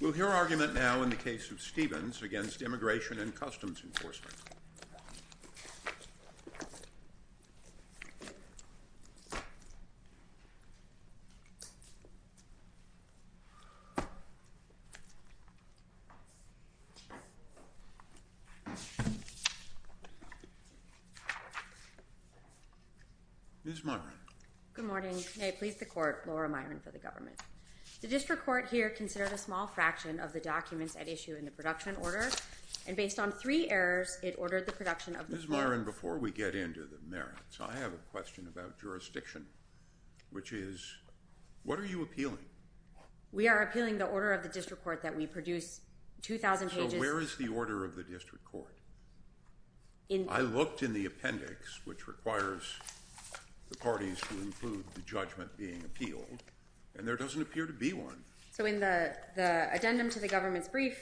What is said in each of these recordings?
We'll hear argument now in the case of Stevens against Immigration and Customs Enforcement. Ms. Myron. Good morning. May it please the court, Laura Myron for the government. The district court here considered a small fraction of the documents at issue in the production order, and based on three errors, it ordered the production of the bill. Ms. Myron, before we get into the merits, I have a question about jurisdiction, which is, what are you appealing? We are appealing the order of the district court that we produce 2,000 pages. So where is the order of the district court? I looked in the appendix, which requires the parties to include the judgment being appealed, and there doesn't appear to be one. So in the addendum to the government's brief,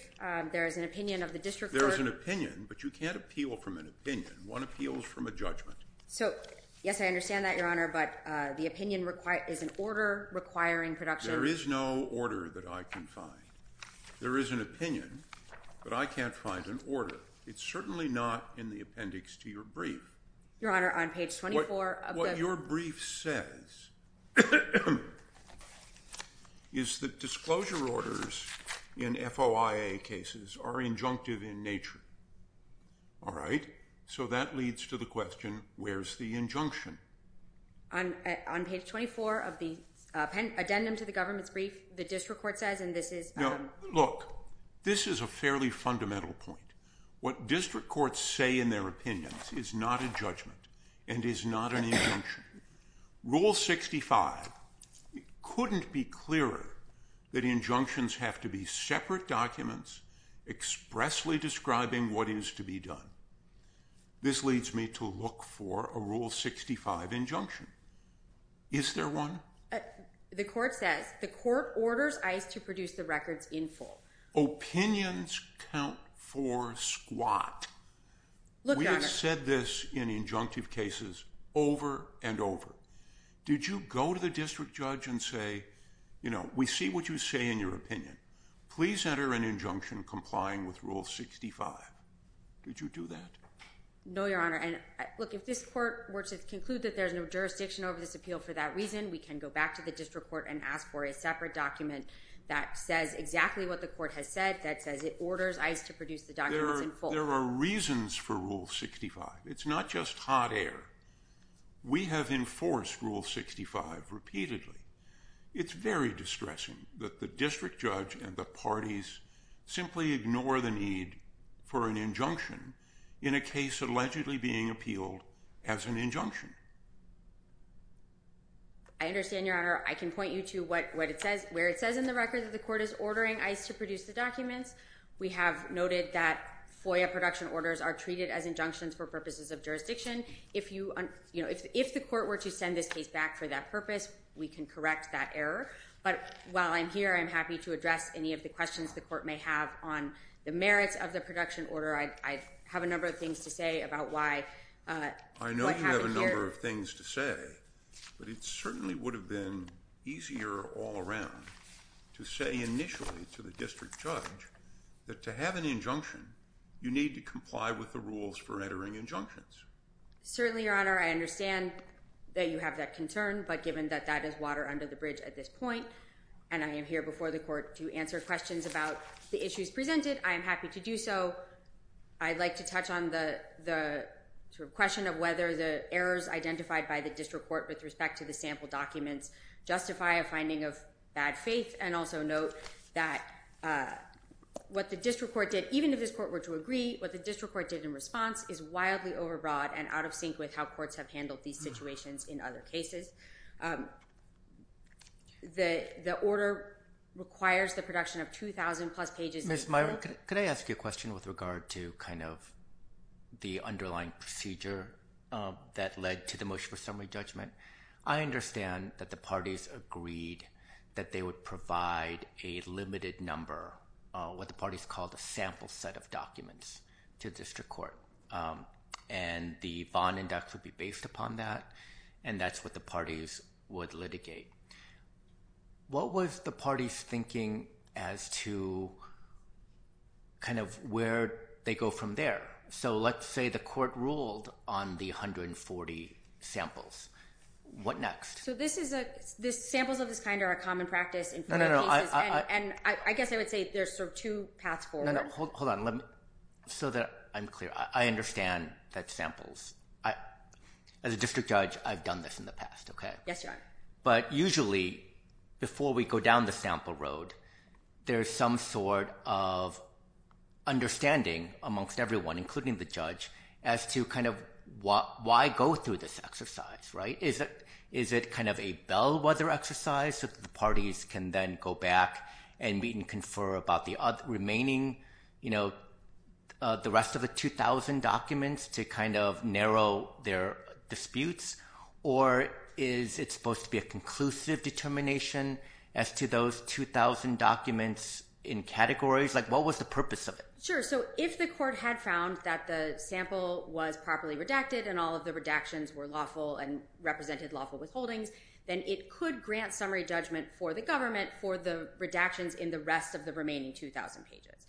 there is an opinion of the district court. There is an opinion, but you can't appeal from an opinion. One appeals from a judgment. So, yes, I understand that, Your Honor, but the opinion is an order requiring production. There is no order that I can find. There is an opinion, but I can't find an order. It's certainly not in the appendix to your brief. Your Honor, on page 24 of the... What your brief says is that disclosure orders in FOIA cases are injunctive in nature. All right? So that leads to the question, where's the injunction? On page 24 of the addendum to the government's brief, the district court says, and this is... Look, this is a fairly fundamental point. What district courts say in their opinions is not a judgment and is not an injunction. Rule 65 couldn't be clearer that injunctions have to be separate documents expressly describing what is to be done. This leads me to look for a Rule 65 injunction. Is there one? The court says, the court orders ICE to produce the records in full. Opinions count for squat. Look, Your Honor... We have said this in injunctive cases over and over. Did you go to the district judge and say, you know, we see what you say in your opinion. Please enter an injunction complying with Rule 65. Did you do that? No, Your Honor, and look, if this court were to conclude that there's no jurisdiction over this appeal for that reason, we can go back to the district court and ask for a separate document that says exactly what the court has said, that says it orders ICE to produce the documents in full. There are reasons for Rule 65. It's not just hot air. We have enforced Rule 65 repeatedly. It's very distressing that the district judge and the parties simply ignore the need for an injunction in a case allegedly being appealed as an injunction. I understand, Your Honor. I can point you to where it says in the record that the court is ordering ICE to produce the documents. We have noted that FOIA production orders are treated as injunctions for purposes of If the court were to send this case back for that purpose, we can correct that error. But while I'm here, I'm happy to address any of the questions the court may have on the FOIA production order. I have a number of things to say about why— I know you have a number of things to say, but it certainly would have been easier all around to say initially to the district judge that to have an injunction, you need to comply with the rules for entering injunctions. Certainly, Your Honor. I understand that you have that concern, but given that that is water under the bridge at this point, and I am here before the court to answer questions about the issues presented, I am happy to do so. I'd like to touch on the question of whether the errors identified by the district court with respect to the sample documents justify a finding of bad faith, and also note that what the district court did, even if this court were to agree, what the district court did in response is wildly overbroad and out of sync with how courts have handled these situations in other cases. The order requires the production of 2,000-plus pages— Ms. Myron, could I ask you a question with regard to kind of the underlying procedure that led to the motion for summary judgment? I understand that the parties agreed that they would provide a limited number, what the parties called a sample set of documents, to the district court, and the Vaughn index would be based upon that, and that's what the parties would litigate. What was the parties' thinking as to kind of where they go from there? So, let's say the court ruled on the 140 samples. What next? So, samples of this kind are a common practice in criminal cases, and I guess I would say there's sort of two paths forward. Hold on, so that I'm clear. I understand that samples—as a district judge, I've done this in the past, okay? Yes, Your Honor. But usually, before we go down the sample road, there's some sort of understanding amongst everyone, including the judge, as to kind of why go through this exercise, right? Is it kind of a bellwether exercise so that the parties can then go back and confer about the remaining, you know, the rest of the 2,000 documents to kind of narrow their disputes? Or is it supposed to be a conclusive determination as to those 2,000 documents in categories? Like, what was the purpose of it? Sure. So, if the court had found that the sample was properly redacted and all of the redactions were lawful and represented lawful withholdings, then it could grant summary judgment for the government for the redactions in the rest of the remaining 2,000 pages.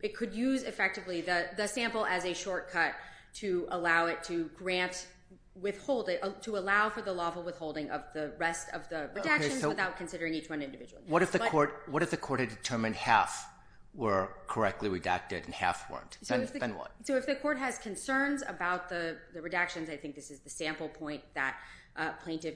It could use, effectively, the sample as a shortcut to allow it to grant withholding—to allow for the lawful withholding of the rest of the redactions without considering each one individually. What if the court had determined half were correctly redacted and half weren't? Then what? So, if the court has concerns about the redactions—I think this is the sample point that a plaintiff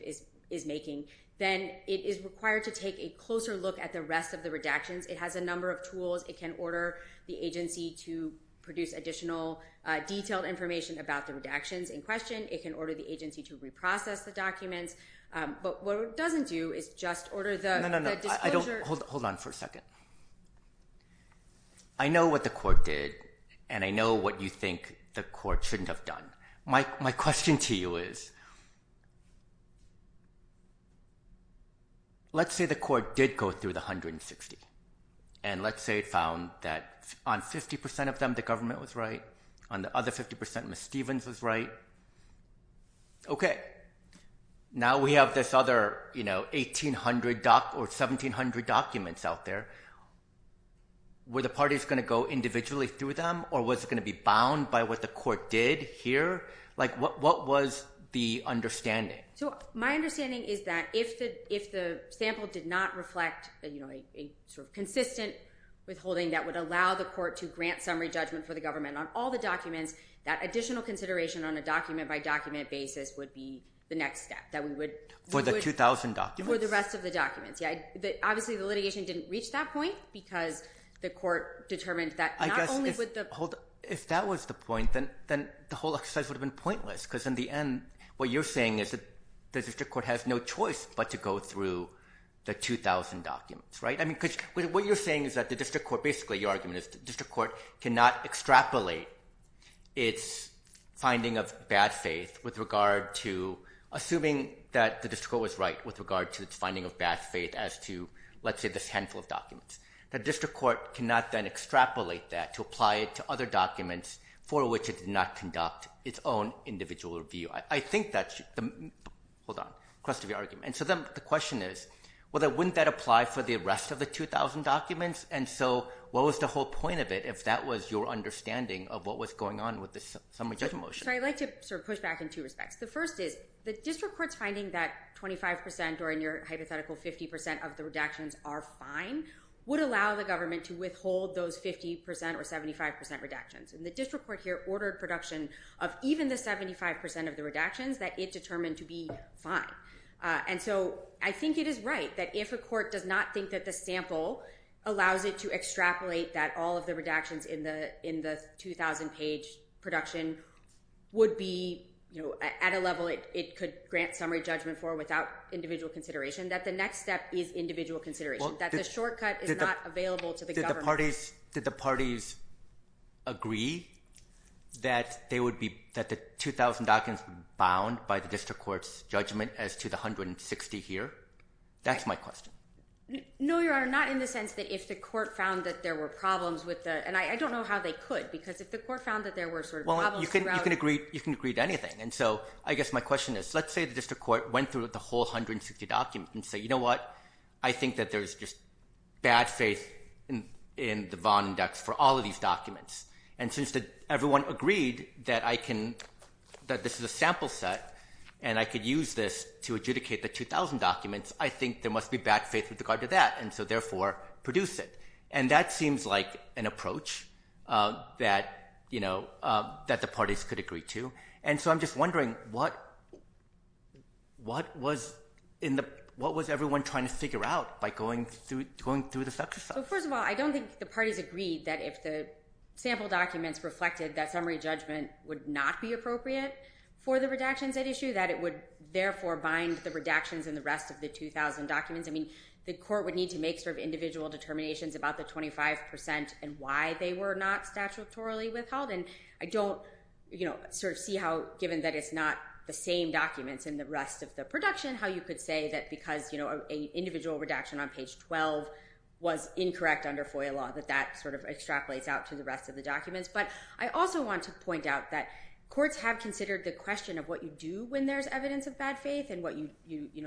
is making—then it is required to take a closer look at the rest of the redactions. It has a number of tools. It can order the agency to produce additional detailed information about the redactions in question. It can order the agency to reprocess the documents. But what it doesn't do is just order the disclosure— Hold on for a second. I know what the court did, and I know what you think the court shouldn't have done. My question to you is, let's say the court did go through the 160, and let's say it found that on 50% of them, the government was right. On the other 50%, Ms. Stevens was right. Okay, now we have this other 1,700 documents out there. Were the parties going to go individually through them, or was it going to be bound by what the court did here? What was the understanding? My understanding is that if the sample did not reflect a consistent withholding that would allow the court to grant summary judgment for the government on all the documents, that additional consideration on a document-by-document basis would be the next step. For the 2,000 documents? For the rest of the documents. Obviously, the litigation didn't reach that point because the court determined that not If that was the point, then the whole exercise would have been pointless, because in the end, what you're saying is that the district court has no choice but to go through the 2,000 documents, right? What you're saying is that the district court, basically your argument is the district court cannot extrapolate its finding of bad faith with regard to assuming that the district court was right with regard to its finding of bad faith as to, let's say, this handful of documents. The district court cannot then extrapolate that to apply it to other documents for which it did not conduct its own individual review. I think that's the... Hold on. The question is, wouldn't that apply for the rest of the 2,000 documents? What was the whole point of it if that was your understanding of what was going on with the summary judgment motion? I'd like to push back in two respects. The first is the district court's finding that 25% or in your hypothetical 50% of the redactions would allow the government to withhold those 50% or 75% redactions. The district court here ordered production of even the 75% of the redactions that it determined to be fine. I think it is right that if a court does not think that the sample allows it to extrapolate that all of the redactions in the 2,000 page production would be at a level it could grant summary judgment for without individual consideration, that the next step is individual consideration. That the shortcut is not available to the government. Did the parties agree that the 2,000 documents bound by the district court's judgment as to the 160 here? That's my question. No, Your Honor, not in the sense that if the court found that there were problems with the... And I don't know how they could because if the court found that there were sort of problems throughout... Well, you can agree to anything. And so, I guess my question is, let's say the district court went through the whole 160 documents and said, you know what, I think that there's just bad faith in the Vaughan index for all of these documents. And since everyone agreed that this is a sample set and I could use this to adjudicate the 2,000 documents, I think there must be bad faith with regard to that. And so, therefore, produce it. And that seems like an approach that the parties could agree to. And so, I'm just wondering, what was everyone trying to figure out by going through this exercise? Well, first of all, I don't think the parties agreed that if the sample documents reflected that summary judgment would not be appropriate for the redactions at issue, that it would therefore bind the redactions and the rest of the 2,000 documents. I mean, the court would need to make sort of individual determinations about the 25% and why they were not statutorily withheld. And I don't sort of see how, given that it's not the same documents in the rest of the production, how you could say that because an individual redaction on page 12 was incorrect under FOIA law, that that sort of extrapolates out to the rest of the documents. But I also want to point out that courts have considered the question of what you do when there's evidence of bad faith and what you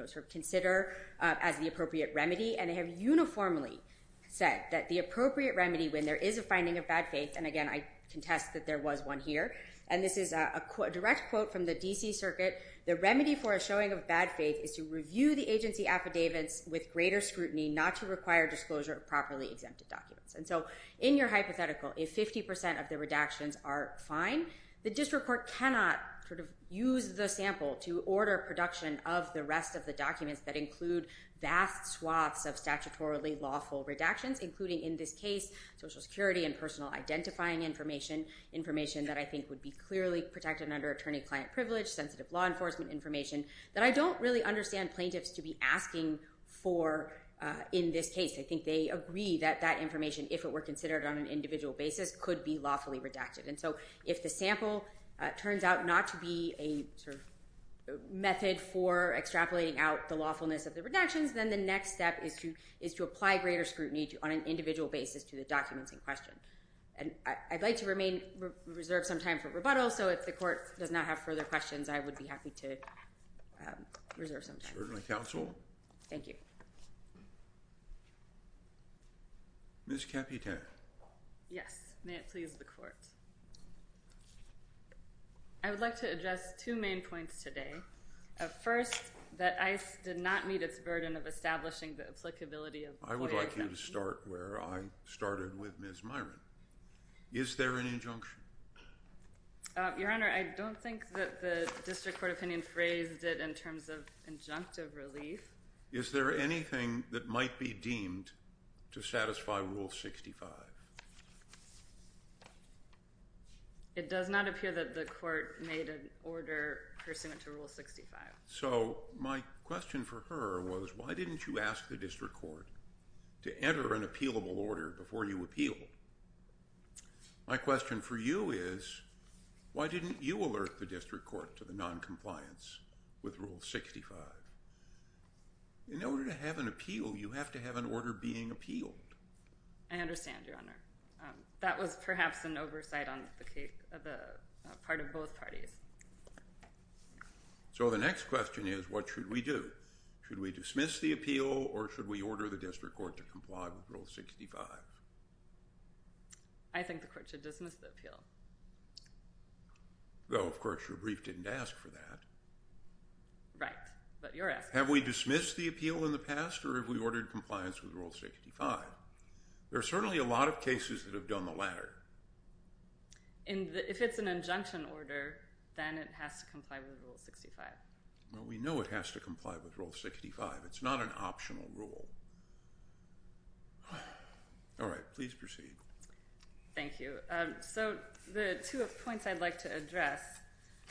sort of consider as the appropriate remedy. And they have uniformly said that the appropriate remedy, when there is a finding of bad faith, and again, I contest that there was one here. And this is a direct quote from the D.C. Circuit. The remedy for a showing of bad faith is to review the agency affidavits with greater scrutiny, not to require disclosure of properly exempted documents. And so in your hypothetical, if 50% of the redactions are fine, the district court cannot sort of use the sample to order production of the rest of the documents that include vast swaths of statutorily lawful redactions, including in this case Social Security and personal identifying information, information that I think would be clearly protected under attorney-client privilege, sensitive law enforcement information, that I don't really understand plaintiffs to be asking for in this case. I think they agree that that information, if it were considered on an individual basis, could be lawfully redacted. And so if the sample turns out not to be a sort of method for extrapolating out the lawfulness of the redactions, then the next step is to apply greater scrutiny on an individual basis to the documents in question. And I'd like to remain reserved some time for rebuttal, so if the court does not have further questions, I would be happy to reserve some time. Certainly, counsel. Thank you. Ms. Caputin. Yes. May it please the court. I would like to address two main points today. First, that ICE did not meet its burden of establishing the applicability of the FOIA exemption. I would like you to start where I started with Ms. Myron. Is there an injunction? Your Honor, I don't think that the district court opinion phrased it in terms of injunctive relief. Is there anything that might be deemed to satisfy Rule 65? It does not appear that the court made an order pursuant to Rule 65. So, my question for her was, why didn't you ask the district court to enter an appealable order before you appealed? My question for you is, why didn't you alert the district court to the noncompliance with Rule 65? In order to have an appeal, you have to have an order being appealed. I understand, Your Honor. That was perhaps an oversight on the part of both parties. So, the next question is, what should we do? Should we dismiss the appeal, or should we order the district court to comply with Rule 65? I think the court should dismiss the appeal. Though, of course, your brief didn't ask for that. Right, but you're asking. Have we dismissed the appeal in the past, or have we ordered compliance with Rule 65? There are certainly a lot of cases that have done the latter. If it's an injunction order, then it has to comply with Rule 65. Well, we know it has to comply with Rule 65. It's not an optional rule. All right. Please proceed. Thank you. So, the two points I'd like to address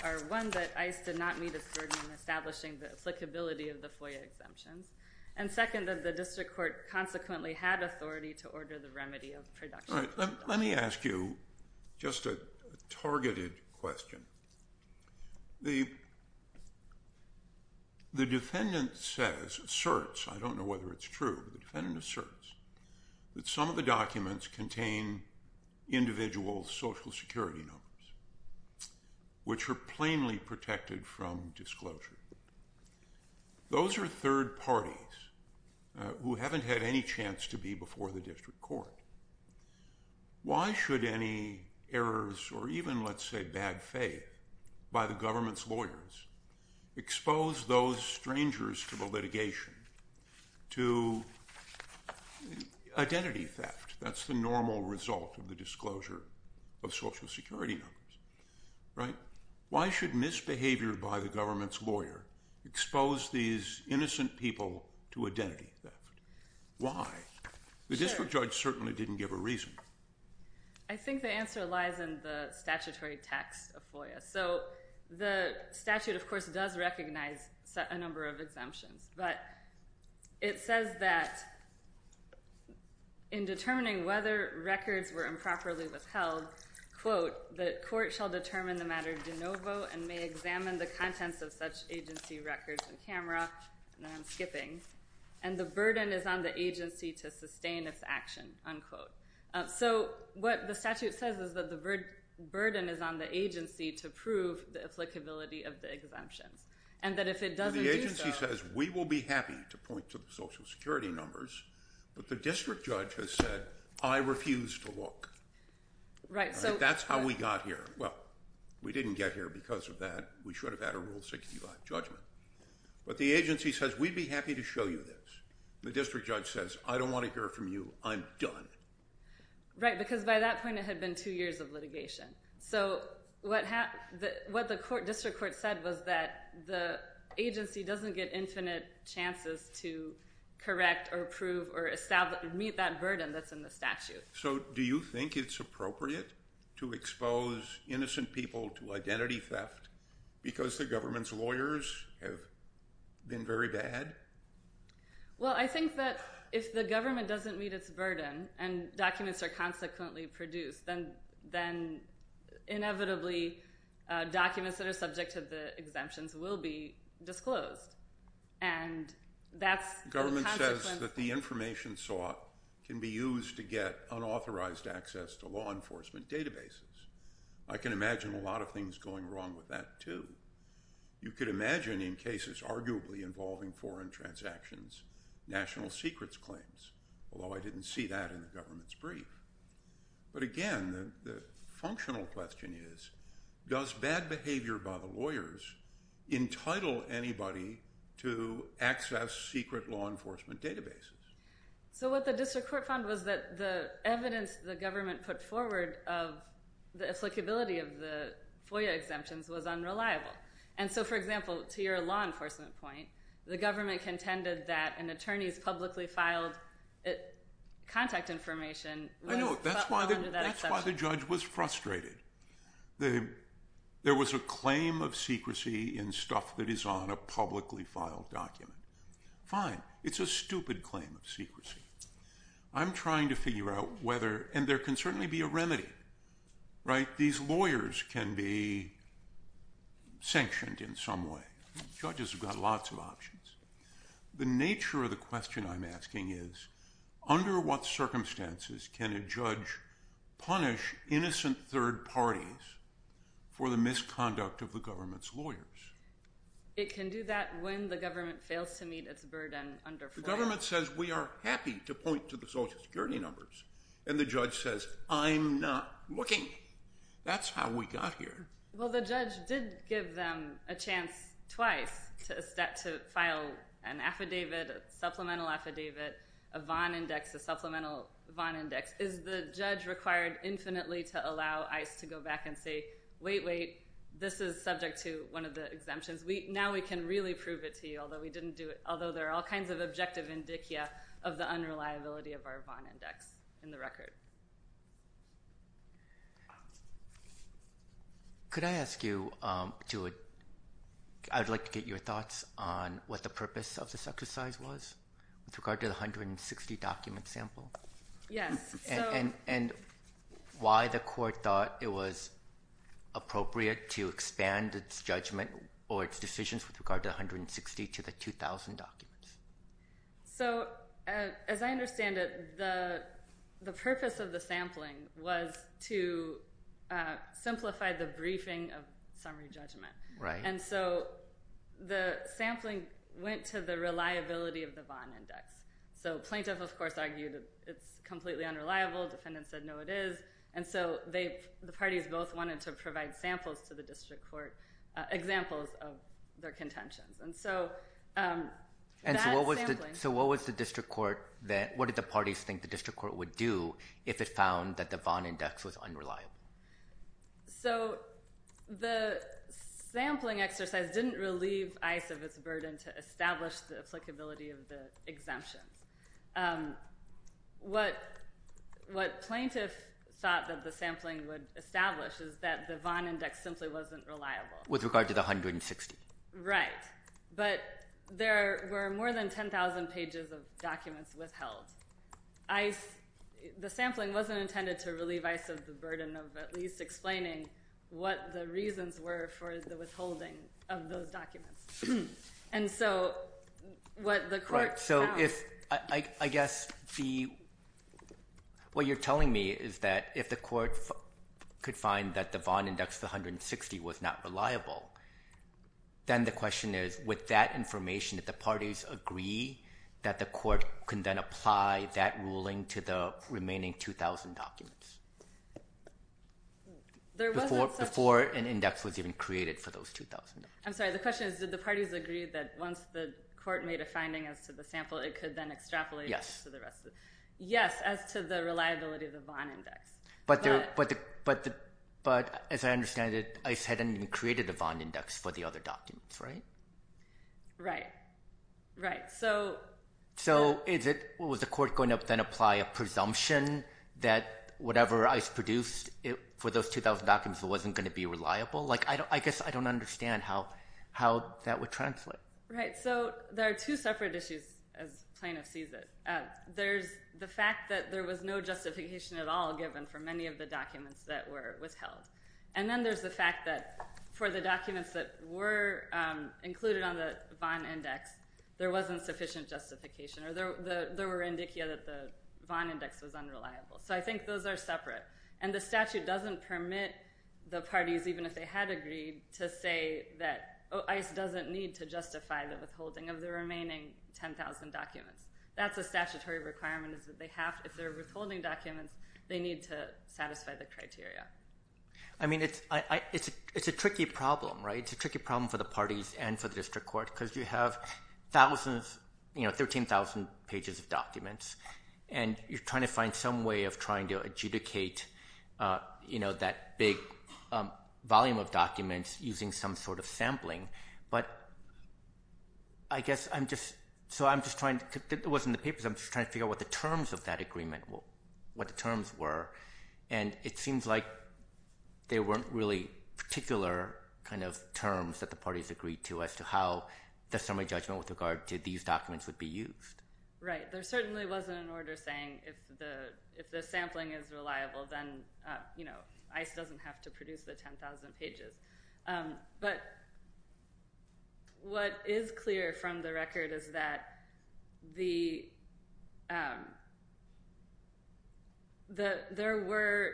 are, one, that ICE did not meet its burden in establishing the applicability of the FOIA exemptions, and second, that the district court consequently had authority to order the remedy of production. All right. Let me ask you just a targeted question. The defendant says, asserts, I don't know whether it's true, but the defendant asserts, that some of the documents contain individual Social Security numbers, which are plainly protected from disclosure. Those are third parties who haven't had any chance to be before the district court. Why should any errors or even, let's say, bad faith by the government's lawyers expose those strangers to the litigation to identity theft? That's the normal result of the disclosure of Social Security numbers, right? Why should misbehavior by the government's lawyer expose these innocent people to identity theft? Why? The district judge certainly didn't give a reason. I think the answer lies in the statutory text of FOIA. So, the statute, of course, does recognize a number of exemptions, but it says that in determining whether records were improperly withheld, quote, the court shall determine the matter de novo and may examine the contents of such agency records in camera, and I'm skipping, and the burden is on the agency to sustain its action, unquote. So, what the statute says is that the burden is on the agency to prove the applicability of the exemptions, and that if it doesn't do so— The agency says, we will be happy to point to the Social Security numbers, but the district judge has said, I refuse to look. Right, so— That's how we got here. Well, we didn't get here because of that. We should have had a Rule 65 judgment, but the agency says, we'd be happy to show you this. The district judge says, I don't want to hear from you. I'm done. Right, because by that point, it had been two years of litigation. So, what the district court said was that the agency doesn't get infinite chances to correct or prove or meet that burden that's in the statute. So, do you think it's appropriate to expose innocent people to identity theft because the government's lawyers have been very bad? Well, I think that if the government doesn't meet its burden and documents are consequently produced, then inevitably documents that are subject to the exemptions will be disclosed, and that's the consequence— unauthorized access to law enforcement databases. I can imagine a lot of things going wrong with that, too. You could imagine, in cases arguably involving foreign transactions, national secrets claims, although I didn't see that in the government's brief. But again, the functional question is, does bad behavior by the lawyers entitle anybody to access secret law enforcement databases? So, what the district court found was that the evidence the government put forward of the applicability of the FOIA exemptions was unreliable. And so, for example, to your law enforcement point, the government contended that an attorney's publicly filed contact information— I know, that's why the judge was frustrated. There was a claim of secrecy in stuff that is on a publicly filed document. Fine, it's a stupid claim of secrecy. I'm trying to figure out whether—and there can certainly be a remedy, right? These lawyers can be sanctioned in some way. Judges have got lots of options. The nature of the question I'm asking is, under what circumstances can a judge punish innocent third parties for the misconduct of the government's lawyers? It can do that when the government fails to meet its burden under FOIA. The government says, we are happy to point to the Social Security numbers. And the judge says, I'm not looking. That's how we got here. Well, the judge did give them a chance twice to file an affidavit, a supplemental affidavit, a Vaughn index, a supplemental Vaughn index. Is the judge required infinitely to allow ICE to go back and say, wait, wait, this is subject to one of the exemptions. Now we can really prove it to you, although we didn't do it—although there are all kinds of objective indicia of the unreliability of our Vaughn index in the record. Could I ask you to—I would like to get your thoughts on what the purpose of this exercise was with regard to the 160-document sample? Yes. And why the court thought it was appropriate to expand its judgment or its decisions with regard to the 160 to the 2,000 documents. So, as I understand it, the purpose of the sampling was to simplify the briefing of summary judgment. Right. And so the sampling went to the reliability of the Vaughn index. So plaintiff, of course, argued that it's completely unreliable. Defendant said, no, it is. And so the parties both wanted to provide samples to the district court, examples of their contentions. And so that sampling— And so what was the district court—what did the parties think the district court would do if it found that the Vaughn index was unreliable? So the sampling exercise didn't relieve ICE of its burden to establish the applicability of the exemptions. What plaintiff thought that the sampling would establish is that the Vaughn index simply wasn't reliable. With regard to the 160. Right. But there were more than 10,000 pages of documents withheld. The sampling wasn't intended to relieve ICE of the burden of at least explaining what the reasons were for the withholding of those documents. And so what the court found— So if—I guess the—what you're telling me is that if the court could find that the Vaughn index, the 160, was not reliable, then the question is, with that information, did the parties agree that the court can then apply that ruling to the remaining 2,000 documents? There wasn't such— Before an index was even created for those 2,000 documents. I'm sorry, the question is, did the parties agree that once the court made a finding as to the sample, it could then extrapolate— Yes, as to the reliability of the Vaughn index. But, as I understand it, ICE hadn't even created a Vaughn index for the other documents, right? Right. Right. So— So is it—was the court going to then apply a presumption that whatever ICE produced for those 2,000 documents wasn't going to be reliable? Like, I guess I don't understand how that would translate. Right. So there are two separate issues, as plaintiff sees it. There's the fact that there was no justification at all given for many of the documents that were withheld. And then there's the fact that for the documents that were included on the Vaughn index, there wasn't sufficient justification, or there were indicia that the Vaughn index was unreliable. So I think those are separate. And the statute doesn't permit the parties, even if they had agreed, to say that ICE doesn't need to justify the withholding of the remaining 10,000 documents. That's a statutory requirement, is that they have—if they're withholding documents, they need to satisfy the criteria. I mean, it's a tricky problem, right? It's a tricky problem for the parties and for the district court, because you have thousands, you know, 13,000 pages of documents, and you're trying to find some way of trying to adjudicate that big volume of documents using some sort of sampling. But I guess I'm just—so I'm just trying—it wasn't the papers, I'm just trying to figure out what the terms of that agreement—what the terms were. And it seems like they weren't really particular kind of terms that the parties agreed to as to how the summary judgment with regard to these documents would be used. Right. There certainly wasn't an order saying if the sampling is reliable, then, you know, ICE doesn't have to produce the 10,000 pages. But what is clear from the record is that the—there were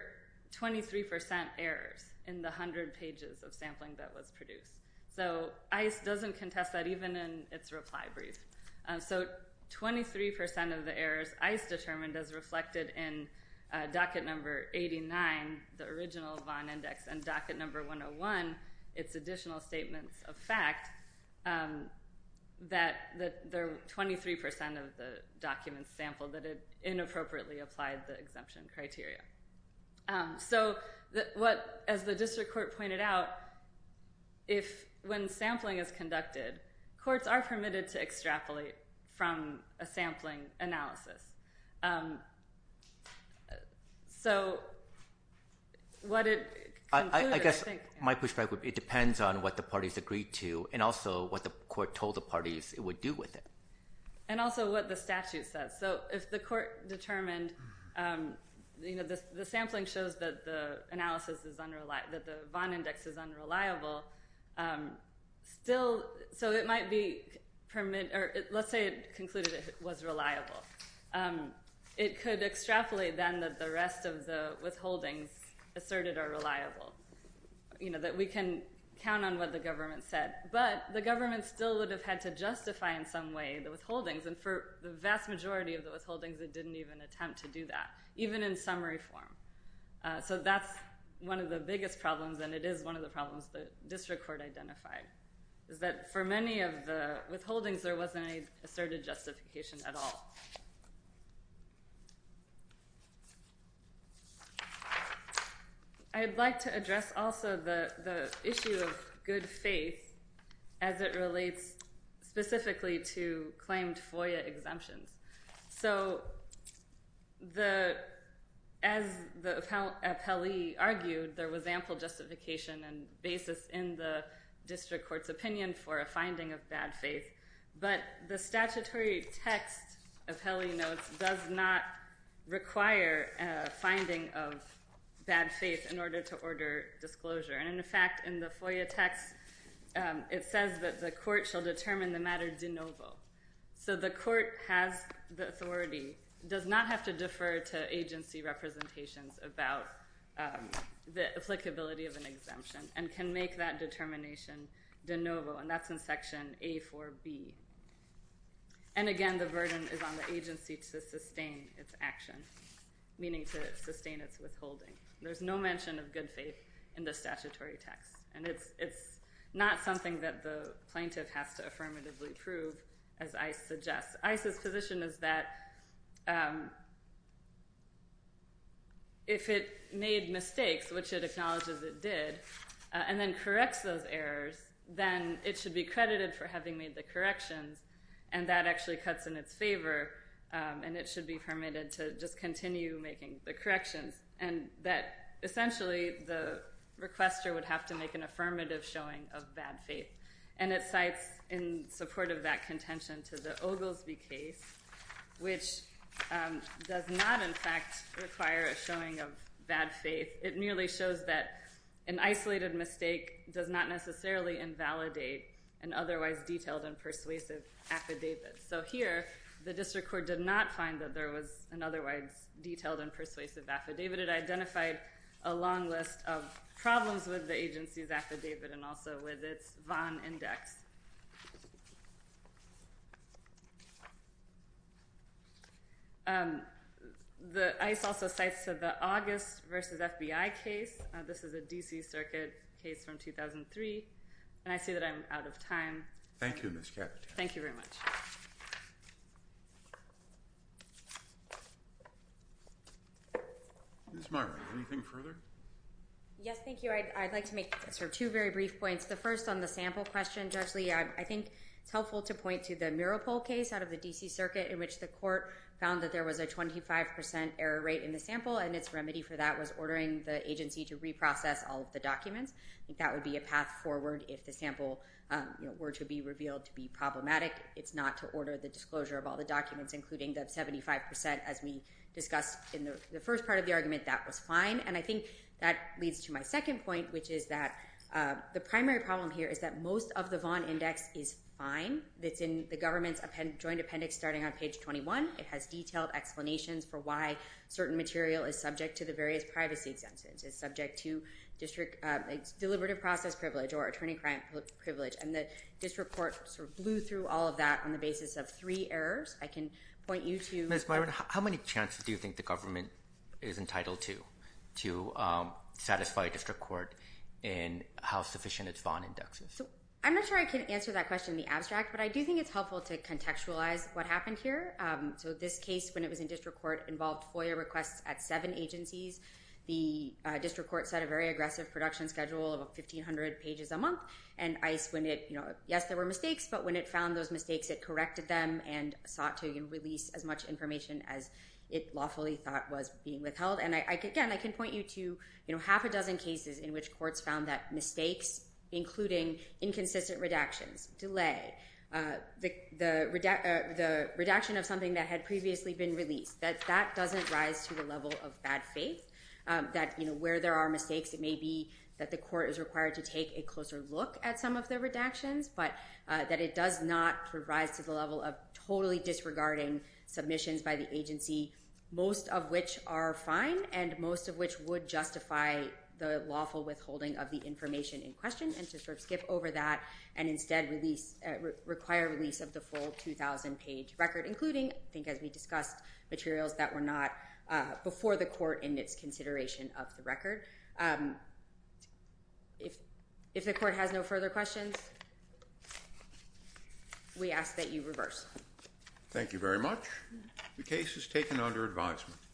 23 percent errors in the 100 pages of sampling that was produced. So ICE doesn't contest that, even in its reply brief. So 23 percent of the errors ICE determined as reflected in docket number 89, the original Vaughn Index, and docket number 101, its additional statements of fact, that there were 23 percent of the documents sampled that it inappropriately applied the exemption criteria. So what—as the district court pointed out, if—when sampling is conducted, courts are permitted to extrapolate from a sampling analysis. So what it concluded, I think— I guess my perspective, it depends on what the parties agreed to and also what the court told the parties it would do with it. And also what the statute says. So if the court determined, you know, the sampling shows that the analysis is unreliable—that so it might be permitted—or let's say it concluded it was reliable, it could extrapolate then that the rest of the withholdings asserted are reliable, you know, that we can count on what the government said. But the government still would have had to justify in some way the withholdings. And for the vast majority of the withholdings, it didn't even attempt to do that, even in summary form. So that's one of the biggest problems, and it is one of the problems the district court identified, is that for many of the withholdings, there wasn't any asserted justification at all. I'd like to address also the issue of good faith as it relates specifically to claimed FOIA exemptions. So as the appellee argued, there was ample justification and basis in the district court's opinion for a finding of bad faith, but the statutory text, appellee notes, does not require a finding of bad faith in order to order disclosure. And in fact, in the FOIA text, it says that the court shall determine the matter de novo. So the court has the authority, does not have to defer to agency representations about the applicability of an exemption, and can make that determination de novo, and that's in section A4B. And again, the burden is on the agency to sustain its action, meaning to sustain its withholding. There's no mention of good faith in the statutory text, and it's not something that the plaintiff has to affirmatively prove, as ICE suggests. ICE's position is that if it made mistakes, which it acknowledges it did, and then corrects those errors, then it should be credited for having made the corrections, and that actually cuts in its favor, and it should be permitted to just continue making the corrections, and that essentially the requester would have to make an affirmative showing of bad faith. And it cites in support of that contention to the Oglesby case, which does not in fact require a showing of bad faith. It merely shows that an isolated mistake does not necessarily invalidate an otherwise detailed and persuasive affidavit. So here, the district court did not find that there was an otherwise detailed and persuasive affidavit. It identified a long list of problems with the agency's affidavit and also with its VON index. ICE also cites the August v. FBI case. This is a D.C. Circuit case from 2003, and I see that I'm out of time. Thank you, Ms. Caput. Thank you very much. Ms. Marra, anything further? Yes, thank you. I'd like to make sort of two very brief points. The first on the sample question, Judge Lee, I think it's helpful to point to the Muropol case out of the D.C. Circuit in which the court found that there was a 25% error rate in the sample, and its remedy for that was ordering the agency to reprocess all of the I think that would be a path forward if the sample were to be revealed to be problematic. It's not to order the disclosure of all the documents, including the 75%, as we discussed in the first part of the argument. That was fine. And I think that leads to my second point, which is that the primary problem here is that most of the VON index is fine. It's in the government's joint appendix starting on page 21. It has detailed explanations for why certain material is subject to the various privacy exemptions. It's subject to deliberative process privilege or attorney-crime privilege, and the district court sort of blew through all of that on the basis of three errors. I can point you to— Ms. Byron, how many chances do you think the government is entitled to to satisfy a district court in how sufficient its VON index is? I'm not sure I can answer that question in the abstract, but I do think it's helpful to contextualize what happened here. So this case, when it was in district court, involved FOIA requests at seven agencies. The district court set a very aggressive production schedule of 1,500 pages a month, and ICE, when it—yes, there were mistakes, but when it found those mistakes, it corrected them and sought to release as much information as it lawfully thought was being withheld. And again, I can point you to half a dozen cases in which courts found that mistakes, including inconsistent redactions, delay, the redaction of something that had previously been released, that that doesn't rise to the level of bad faith, that where there are mistakes, it may be that the court is required to take a closer look at some of the redactions, but that it does not rise to the level of totally disregarding submissions by the agency, most of which are fine and most of which would justify the lawful withholding of the information in question, and to sort of skip over that and instead require release of the full 2,000-page record, including, I think as we discussed, materials that were not before the court in its consideration of the record. If the court has no further questions, we ask that you reverse. Thank you very much. The case is taken under advisement.